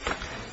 Mr.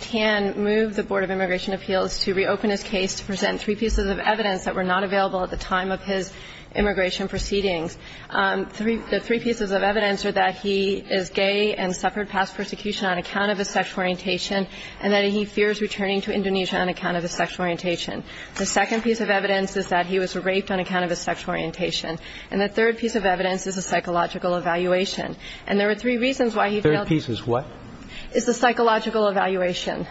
Tan moved the Board of Immigration Appeals to reopen his case to present three pieces of evidence that were not available at the time of his immigration proceedings. The three pieces of evidence are that he is gay and suffered past persecution on account of his sexual orientation and that he fears returning to Indonesia on account of his sexual orientation. The second piece of evidence is that he was raped on account of his sexual orientation. And the third piece of evidence is a psychological evaluation. And there are three reasons why he failed. The third piece is what? It's a psychological evaluation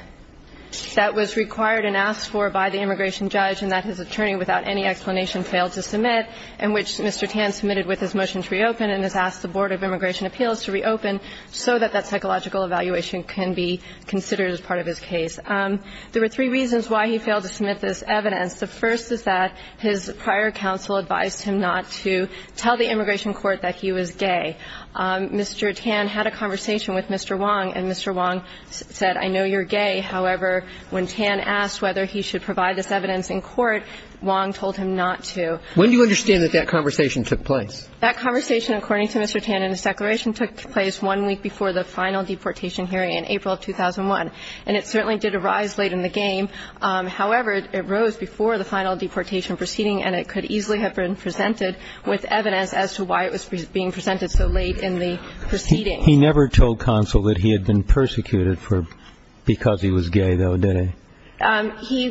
that was required and asked for by the immigration judge and that his attorney, without any explanation, failed to submit, in which Mr. Tan submitted with his motion to reopen and has asked the Board of Immigration Appeals to reopen so that that psychological evaluation can be considered as part of his case. There were three reasons why he failed to submit this evidence. The first is that his prior counsel advised him not to tell the immigration court that he was gay. Mr. Tan had a conversation with Mr. Wong, and Mr. Wong said, I know you're gay. However, when Tan asked whether he should provide this evidence in court, Wong told him not to. When do you understand that that conversation took place? That conversation, according to Mr. Tan in his declaration, took place one week before the final deportation hearing in April of 2001. And it certainly did arise late in the game. However, it arose before the final deportation proceeding, and it could easily have been presented with evidence as to why it was being presented. So late in the proceeding. He never told counsel that he had been persecuted because he was gay, though, did he?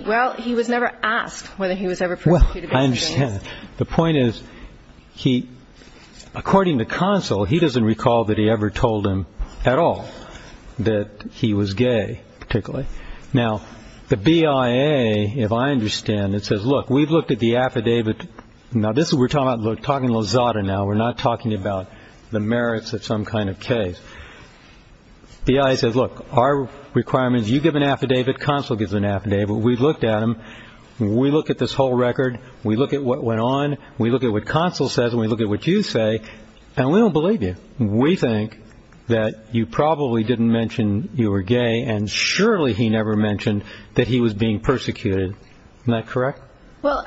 Well, he was never asked whether he was ever persecuted. Well, I understand. The point is, according to counsel, he doesn't recall that he ever told him at all that he was gay, particularly. Now, the BIA, if I understand it, says, look, we've looked at the affidavit. Now, this is what we're talking about. We're not talking about the merits of some kind of case. BIA says, look, our requirement is you give an affidavit, counsel gives an affidavit. We've looked at them. We look at this whole record. We look at what went on. We look at what counsel says, and we look at what you say, and we don't believe you. We think that you probably didn't mention you were gay, and surely he never mentioned that he was being persecuted. Isn't that correct? Well,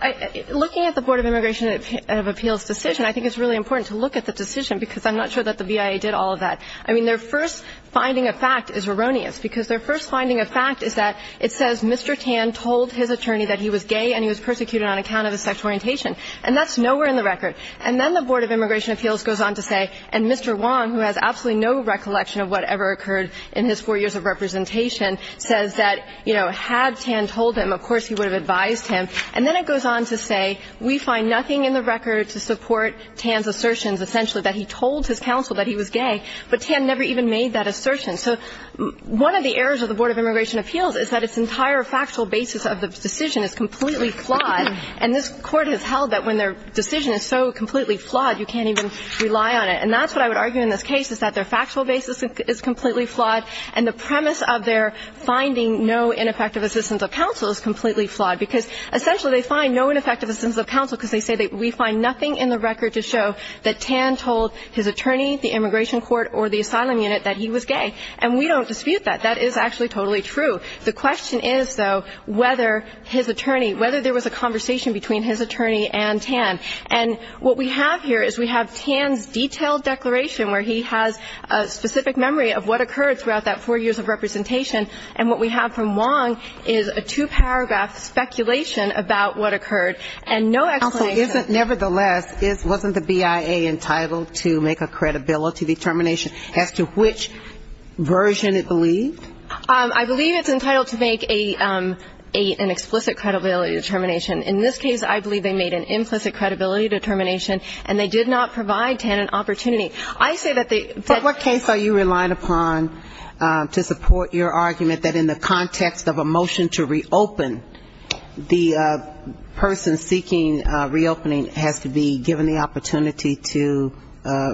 looking at the Board of Immigration Appeals' decision, I think it's really important to look at the decision because I'm not sure that the BIA did all of that. I mean, their first finding of fact is erroneous because their first finding of fact is that it says Mr. Tan told his attorney that he was gay and he was persecuted on account of his sexual orientation, and that's nowhere in the record. And then the Board of Immigration Appeals goes on to say, and Mr. Wong, who has absolutely no recollection of whatever occurred in his four years of representation, says that, you know, had Tan told him, of course he would have advised him. And then it goes on to say, we find nothing in the record to support Tan's assertions, essentially, that he told his counsel that he was gay, but Tan never even made that assertion. So one of the errors of the Board of Immigration Appeals is that its entire factual basis of the decision is completely flawed, and this Court has held that when their decision is so completely flawed, you can't even rely on it. And that's what I would argue in this case, is that their factual basis is completely flawed, and the premise of their finding no ineffective assistance of counsel is completely flawed, because essentially they find no ineffective assistance of counsel because they say that we find nothing in the record to show that Tan told his attorney, the immigration court, or the asylum unit that he was gay. And we don't dispute that. That is actually totally true. The question is, though, whether his attorney, whether there was a conversation between his attorney and Tan. And what we have here is we have Tan's detailed declaration where he has a specific memory of what occurred throughout that four years of representation, and what we have from Wong is a two-paragraph speculation about what occurred, and no explanation of that. Also, nevertheless, wasn't the BIA entitled to make a credibility determination as to which version it believed? I believe it's entitled to make an explicit credibility determination. In this case, I believe they made an implicit credibility determination, and they did not provide Tan an opportunity. I say that they But what case are you relying upon to support your argument that in the context of a motion to reopen, the person seeking reopening has to be given the opportunity to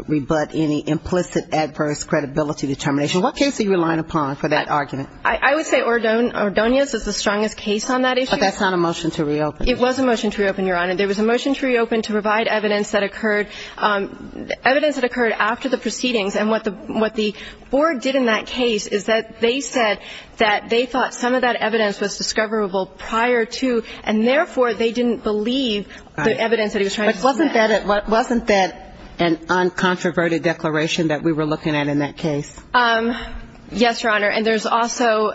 rebut any implicit adverse credibility determination? What case are you relying upon for that argument? I would say Ordonez is the strongest case on that issue. But that's not a motion to reopen. It was a motion to reopen, Your Honor. There was a motion to reopen to provide evidence that occurred after the proceedings. And what the board did in that case is that they said that they thought some of that evidence was discoverable prior to, and therefore, they didn't believe the evidence that he was trying to submit. But wasn't that an uncontroverted declaration that we were looking at in that case? Yes, Your Honor. And there's also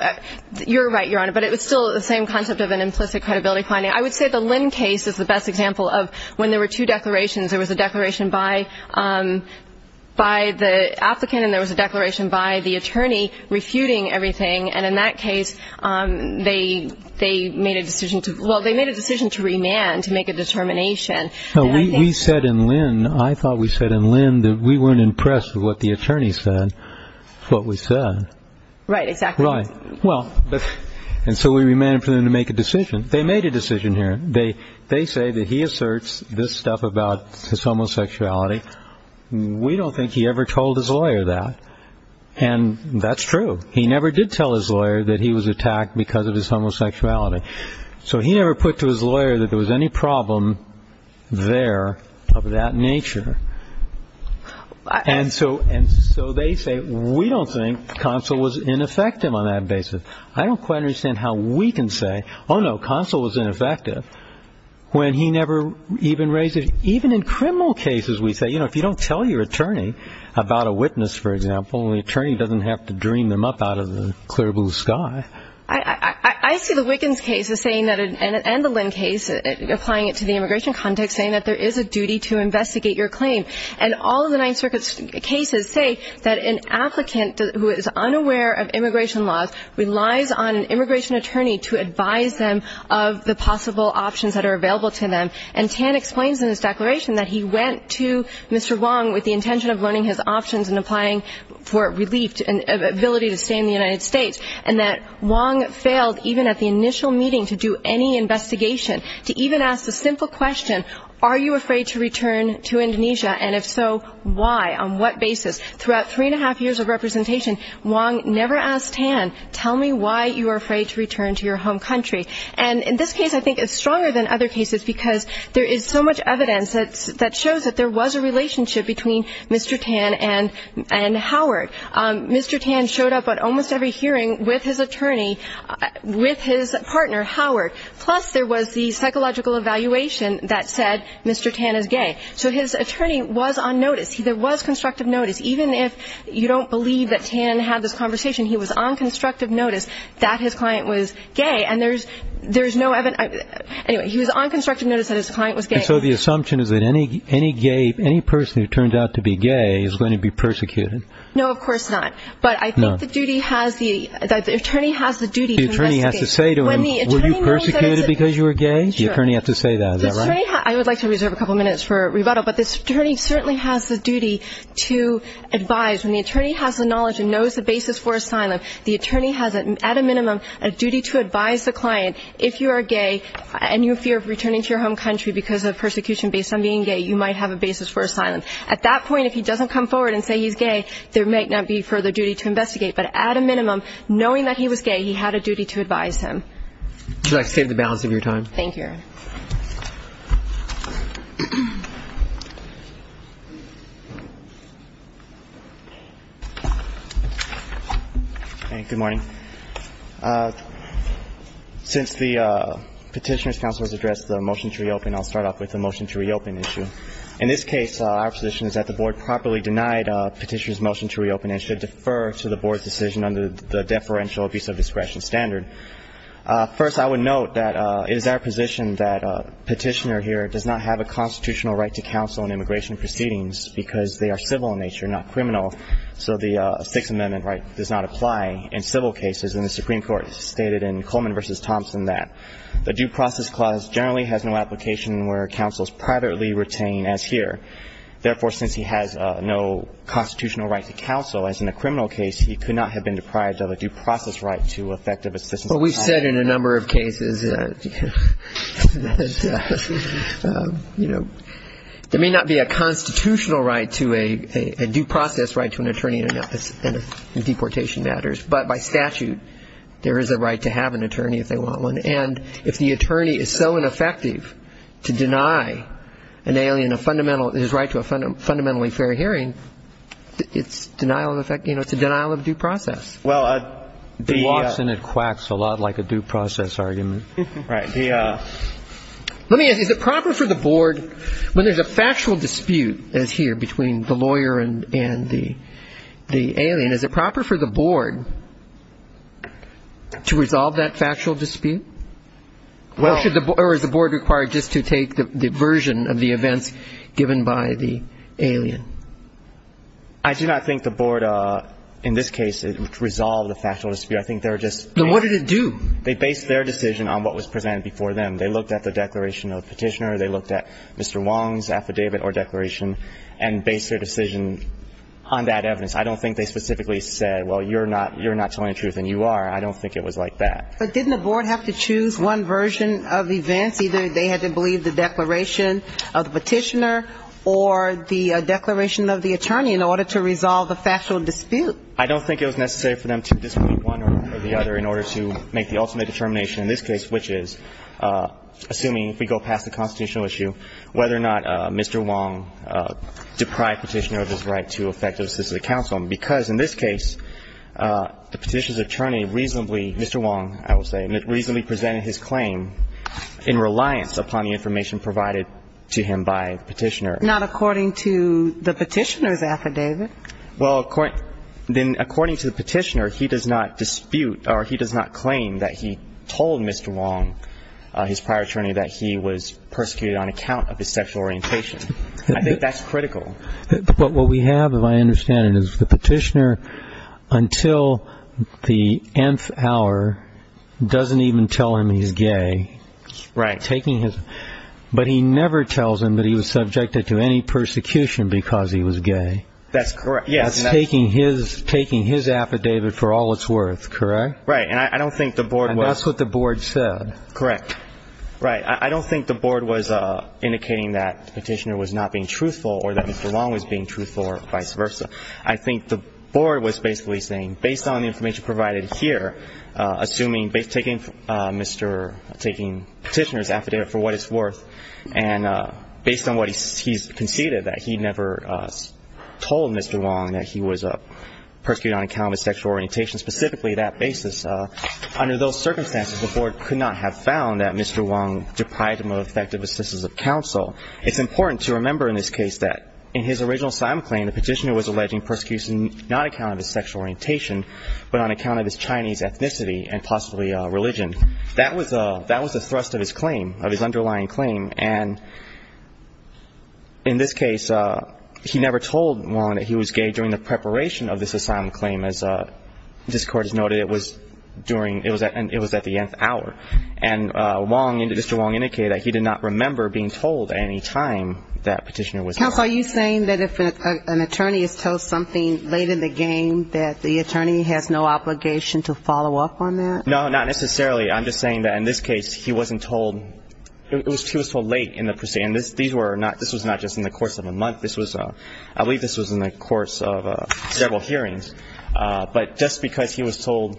you're right, Your Honor, but it was still the same concept of an implicit credibility finding. I would say the Lynn case is the best example of when there were two declarations. There was a declaration by the applicant, and there was a declaration by the attorney refuting everything. And in that case, they made a decision to remand to make a determination. We said in Lynn, I thought we said in Lynn, that we weren't impressed with what the attorney said, what we said. Right, exactly. Right. And so we remanded for them to make a decision. They made a decision here. They say that he asserts this stuff about his homosexuality. We don't think he ever told his lawyer that. And that's true. He never did tell his lawyer that he was attacked because of his homosexuality. So he never put to his lawyer that there was any problem there of that nature. And so they say we don't think Consul was ineffective on that basis. I don't quite understand how we can say, oh, no, Consul was ineffective when he never even raised it. Even in criminal cases, we say, you know, if you don't tell your attorney about a witness, for example, the attorney doesn't have to dream them up out of the clear blue sky. I see the Wiggins case as saying that, and the Lynn case, applying it to the immigration context, saying that there is a duty to investigate your claim. And all of the Ninth Circuit's cases say that an applicant who is unaware of their claim relies on an immigration attorney to advise them of the possible options that are available to them. And Tan explains in his declaration that he went to Mr. Wong with the intention of learning his options and applying for relief and ability to stay in the United States, and that Wong failed even at the initial meeting to do any investigation, to even ask the simple question, are you afraid to return to Indonesia? And if so, why? On what basis? Throughout three and a half years of representation, Wong never asked Tan, tell me why you are afraid to return to your home country. And in this case, I think it's stronger than other cases, because there is so much evidence that shows that there was a relationship between Mr. Tan and Howard. Mr. Tan showed up at almost every hearing with his attorney, with his partner, Howard. Plus, there was the psychological evaluation that said Mr. Tan is gay. So his attorney was on notice. There was constructive notice. Even if you don't believe that Tan had this conversation, he was on constructive notice that his client was gay. And there's no evidence. Anyway, he was on constructive notice that his client was gay. So the assumption is that any gay, any person who turned out to be gay is going to be persecuted? No, of course not. But I think the duty has the, the attorney has the duty to investigate. The attorney has to say to him, were you persecuted because you were gay? The attorney has to say that, is that right? The attorney, I would like to reserve a couple minutes for rebuttal, but the attorney has a duty to advise. When the attorney has the knowledge and knows the basis for asylum, the attorney has, at a minimum, a duty to advise the client, if you are gay and you fear of returning to your home country because of persecution based on being gay, you might have a basis for asylum. At that point, if he doesn't come forward and say he's gay, there might not be further duty to investigate. But at a minimum, knowing that he was gay, he had a duty to advise him. Should I save the balance of your time? Thank you. Good morning. Since the petitioner's counsel has addressed the motion to reopen, I'll start off with the motion to reopen issue. In this case, our position is that the board properly denied petitioner's motion to reopen and should defer to the board's decision under the deferential abuse of discretion standard. First, I would note that it is our position that petitioner here does not have a constitutional right to counsel in immigration proceedings because they are civil in nature, not criminal, so the Sixth Amendment right does not apply in civil cases, and the Supreme Court stated in Coleman v. Thompson that the due process clause generally has no application where counsel is privately retained, as here. In a criminal case, he could not have been deprived of a due process right to effective assistance. Well, we've said in a number of cases that, you know, there may not be a constitutional right to a due process right to an attorney in deportation matters, but by statute, there is a right to have an attorney if they want one. And if the attorney is so ineffective to deny an alien a fundamental – his right to a fundamentally fair hearing, it's denial of effect – you know, it's a denial of due process. Well, the – He walks and it quacks a lot like a due process argument. Right. The – Let me ask, is it proper for the board when there's a factual dispute, as here, between the lawyer and the alien, is it proper for the board to resolve that factual dispute? Well – Or is the board required just to take the version of the events given by the alien? I do not think the board, in this case, resolved the factual dispute. I think they were just – Then what did it do? They based their decision on what was presented before them. They looked at the declaration of petitioner. They looked at Mr. Wong's affidavit or declaration and based their decision on that evidence. I don't think they specifically said, well, you're not telling the truth, and you are. I don't think it was like that. But didn't the board have to choose one version of events? Either they had to believe the declaration of the petitioner or the declaration of the attorney in order to resolve the factual dispute? I don't think it was necessary for them to dispute one or the other in order to make the ultimate determination, in this case, which is, assuming we go past the constitutional issue, whether or not Mr. Wong deprived petitioner of his right to effective assistance to the counsel. Because in this case, the petitioner's attorney reasonably – Mr. Wong, I would say, has a reliance upon the information provided to him by the petitioner. Not according to the petitioner's affidavit. Well, according to the petitioner, he does not dispute or he does not claim that he told Mr. Wong, his prior attorney, that he was persecuted on account of his sexual orientation. I think that's critical. But what we have, if I understand it, is the petitioner, until the nth hour, doesn't even tell him he's gay. Right. But he never tells him that he was subjected to any persecution because he was gay. That's correct. That's taking his affidavit for all it's worth, correct? Right. And I don't think the board was – And that's what the board said. Correct. Right. I don't think the board was indicating that the petitioner was not being truthful or that Mr. Wong was being truthful or vice versa. I think the board was basically saying, based on the information provided here, assuming – taking petitioner's affidavit for what it's worth, and based on what he's conceded, that he never told Mr. Wong that he was persecuted on account of his sexual orientation, specifically that basis. Under those circumstances, the board could not have found that Mr. Wong deprived him of effective assistance of counsel. It's important to remember in this case that in his original asylum claim, the petitioner was alleging persecution not on account of his sexual orientation but on account of his Chinese ethnicity and possibly religion. That was the thrust of his claim, of his underlying claim. And in this case, he never told Wong that he was gay during the preparation of this asylum claim. As this Court has noted, it was at the nth hour. And Mr. Wong indicated that he did not remember being told at any time that petitioner was gay. Counsel, are you saying that if an attorney is told something late in the game, that the attorney has no obligation to follow up on that? No, not necessarily. I'm just saying that in this case, he wasn't told – he was told late in the – and these were not – this was not just in the course of a month. This was – I believe this was in the course of several hearings. But just because he was told,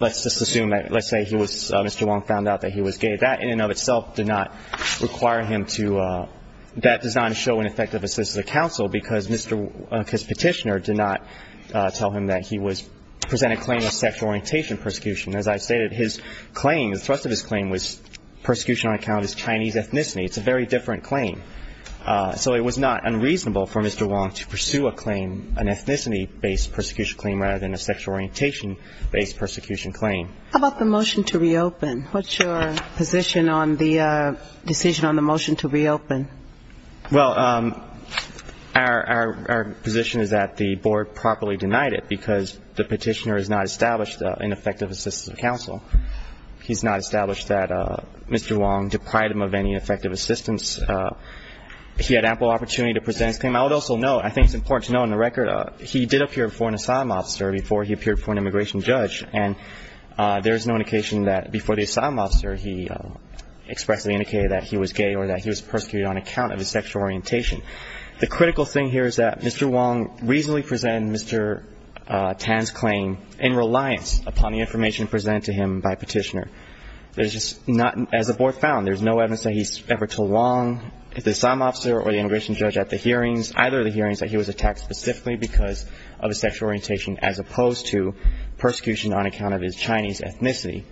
let's just assume that – let's say he was – Mr. Wong found out that he was gay, that in and of itself did not require him to – that does not show an effective assistance of counsel because Mr. – because petitioner did not tell him that he was – presented a claim of sexual orientation persecution. As I stated, his claim, the thrust of his claim was persecution on account of his Chinese ethnicity. It's a very different claim. So it was not unreasonable for Mr. Wong to pursue a claim, an ethnicity-based persecution claim, rather than a sexual orientation-based persecution claim. How about the motion to reopen? What's your position on the decision on the motion to reopen? Well, our position is that the board properly denied it because the petitioner has not established an effective assistance of counsel. He's not established that Mr. Wong deprived him of any effective assistance. He had ample opportunity to present his claim. I would also note, I think it's important to note on the record, he did appear before an asylum officer before he appeared before an immigration judge. And there is no indication that before the asylum officer, he expressly indicated that he was gay or that he was persecuted on account of his sexual orientation. The critical thing here is that Mr. Wong reasonably presented Mr. Tan's claim in reliance upon the information presented to him by petitioner. There's just not – as the board found, there's no evidence that he's ever told Wong, the asylum officer or the immigration judge at the hearings, either of the hearings that he was attacked specifically because of his sexual orientation as opposed to persecution on account of his Chinese ethnicity,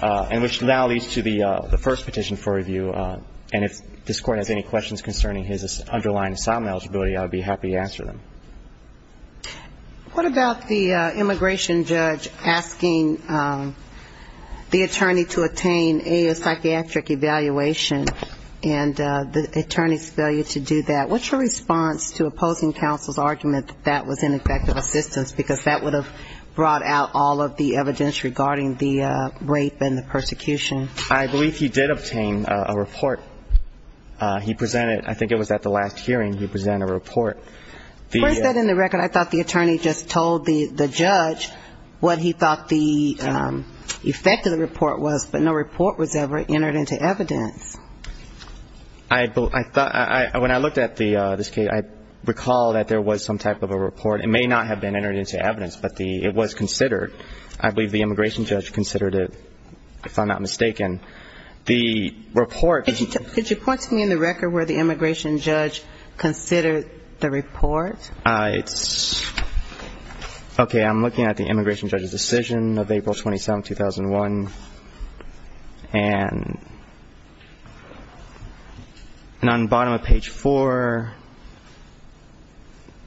and which now leads to the first petition for review. And if this Court has any questions concerning his underlying asylum eligibility, I would be happy to answer them. What about the immigration judge asking the attorney to attain a psychiatric evaluation and the attorney's failure to do that? What's your response to opposing counsel's argument that that was ineffective assistance because that would have brought out all of the evidence regarding the rape and the persecution? I believe he did obtain a report. He presented – I think it was at the last hearing he presented a report. Where is that in the record? I thought the attorney just told the judge what he thought the effect of the report was, but no report was ever entered into evidence. When I looked at this case, I recall that there was some type of a report. It may not have been entered into evidence, but it was considered. I believe the immigration judge considered it, if I'm not mistaken. The report – Could you point to me in the record where the immigration judge considered the report? It's – okay, I'm looking at the immigration judge's decision of April 27, 2001. And on the bottom of page 4 –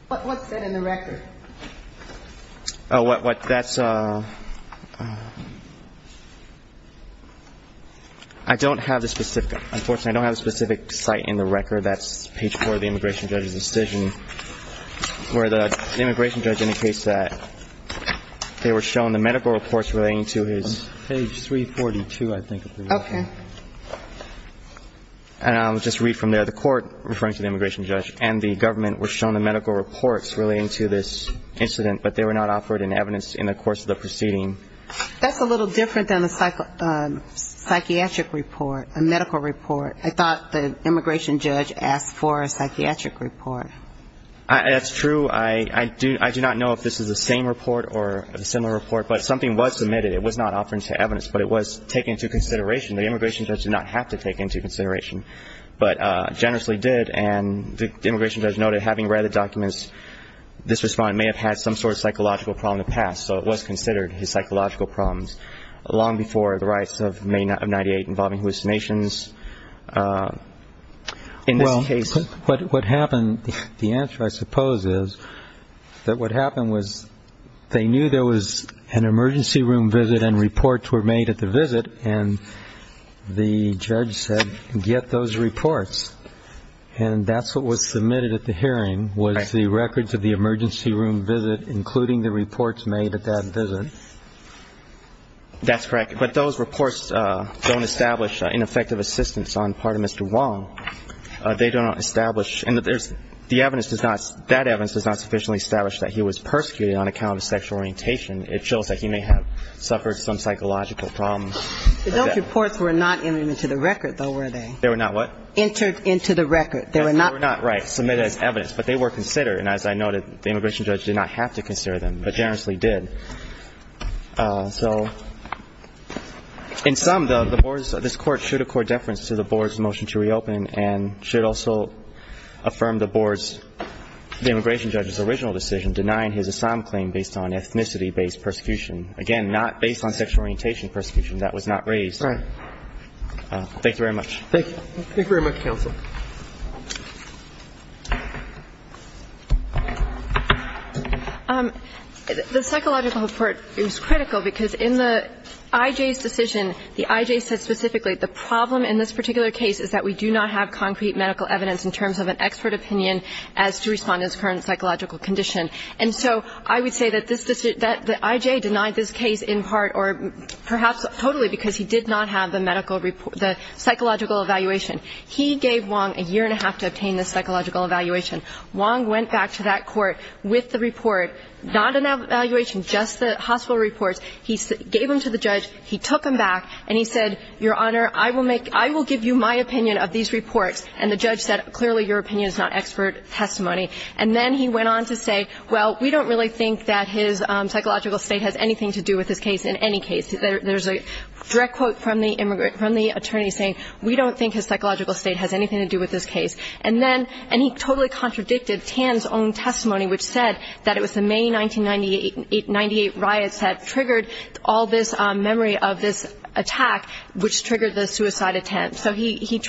What's said in the record? What – that's – I don't have the specific – Where the immigration judge indicates that they were shown the medical reports relating to his – Page 342, I think. Okay. And I'll just read from there. The court, referring to the immigration judge, and the government were shown the medical reports relating to this incident, but they were not offered in evidence in the course of the proceeding. That's a little different than a psychiatric report, a medical report. I thought the immigration judge asked for a psychiatric report. That's true. I do not know if this is the same report or a similar report, but something was submitted. It was not offered into evidence, but it was taken into consideration. The immigration judge did not have to take it into consideration, but generously did. And the immigration judge noted, having read the documents, this respondent may have had some sort of psychological problem in the past, so it was considered his psychological problems long before the riots of May of 1998 involving hallucinations. Well, what happened, the answer, I suppose, is that what happened was they knew there was an emergency room visit and reports were made at the visit, and the judge said, get those reports. And that's what was submitted at the hearing, was the records of the emergency room visit including the reports made at that visit. That's correct. But those reports don't establish ineffective assistance on part of Mr. Wong. They don't establish, and the evidence does not, that evidence does not sufficiently establish that he was persecuted on account of sexual orientation. It shows that he may have suffered some psychological problems. Those reports were not entered into the record, though, were they? They were not what? Entered into the record. They were not. They were not, right, submitted as evidence, but they were considered. And as I noted, the immigration judge did not have to consider them, but generously did. So in sum, the board's, this Court should accord deference to the board's motion to reopen and should also affirm the board's, the immigration judge's original decision, denying his Assam claim based on ethnicity-based persecution. Again, not based on sexual orientation persecution. That was not raised. Right. Thank you. Thank you very much, counsel. The psychological report is critical because in the I.J.'s decision, the I.J. said specifically, the problem in this particular case is that we do not have concrete medical evidence in terms of an expert opinion as to respond to this current psychological condition. And so I would say that this, that the I.J. denied this case in part or perhaps totally because he did not have the medical report, the psychological evaluation. He gave Wong a year and a half to obtain this psychological evaluation. Wong went back to that court with the report, not an evaluation, just the hospital reports. He gave them to the judge. He took them back. And he said, Your Honor, I will make, I will give you my opinion of these reports. And the judge said, clearly, your opinion is not expert testimony. And then he went on to say, well, we don't really think that his psychological state has anything to do with this case in any case. There's a direct quote from the attorney saying, we don't think his psychological state has anything to do with this case. And then, and he totally contradicted Tan's own testimony, which said that it was the May 1998 riots that triggered all this memory of this attack, which triggered the suicide attempt. So he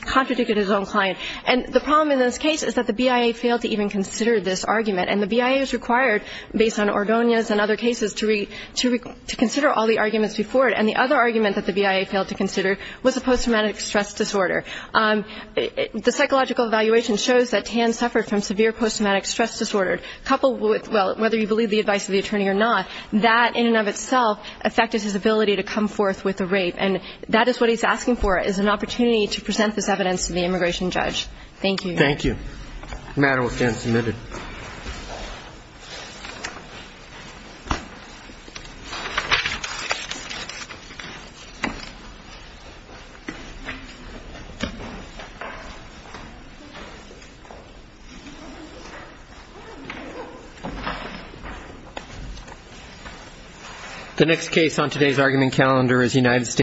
contradicted his own client. And the problem in this case is that the BIA failed to even consider this argument. And the BIA is required, based on Ordonez and other cases, to consider all the arguments before it. And the other argument that the BIA failed to consider was the post-traumatic stress disorder. The psychological evaluation shows that Tan suffered from severe post-traumatic stress disorder, coupled with, well, whether you believe the advice of the attorney or not, that in and of itself affected his ability to come forth with a rape. And that is what he's asking for, is an opportunity to present this evidence to the immigration judge. Thank you. Thank you. The matter will stand submitted. The next case on today's argument calendar is United States.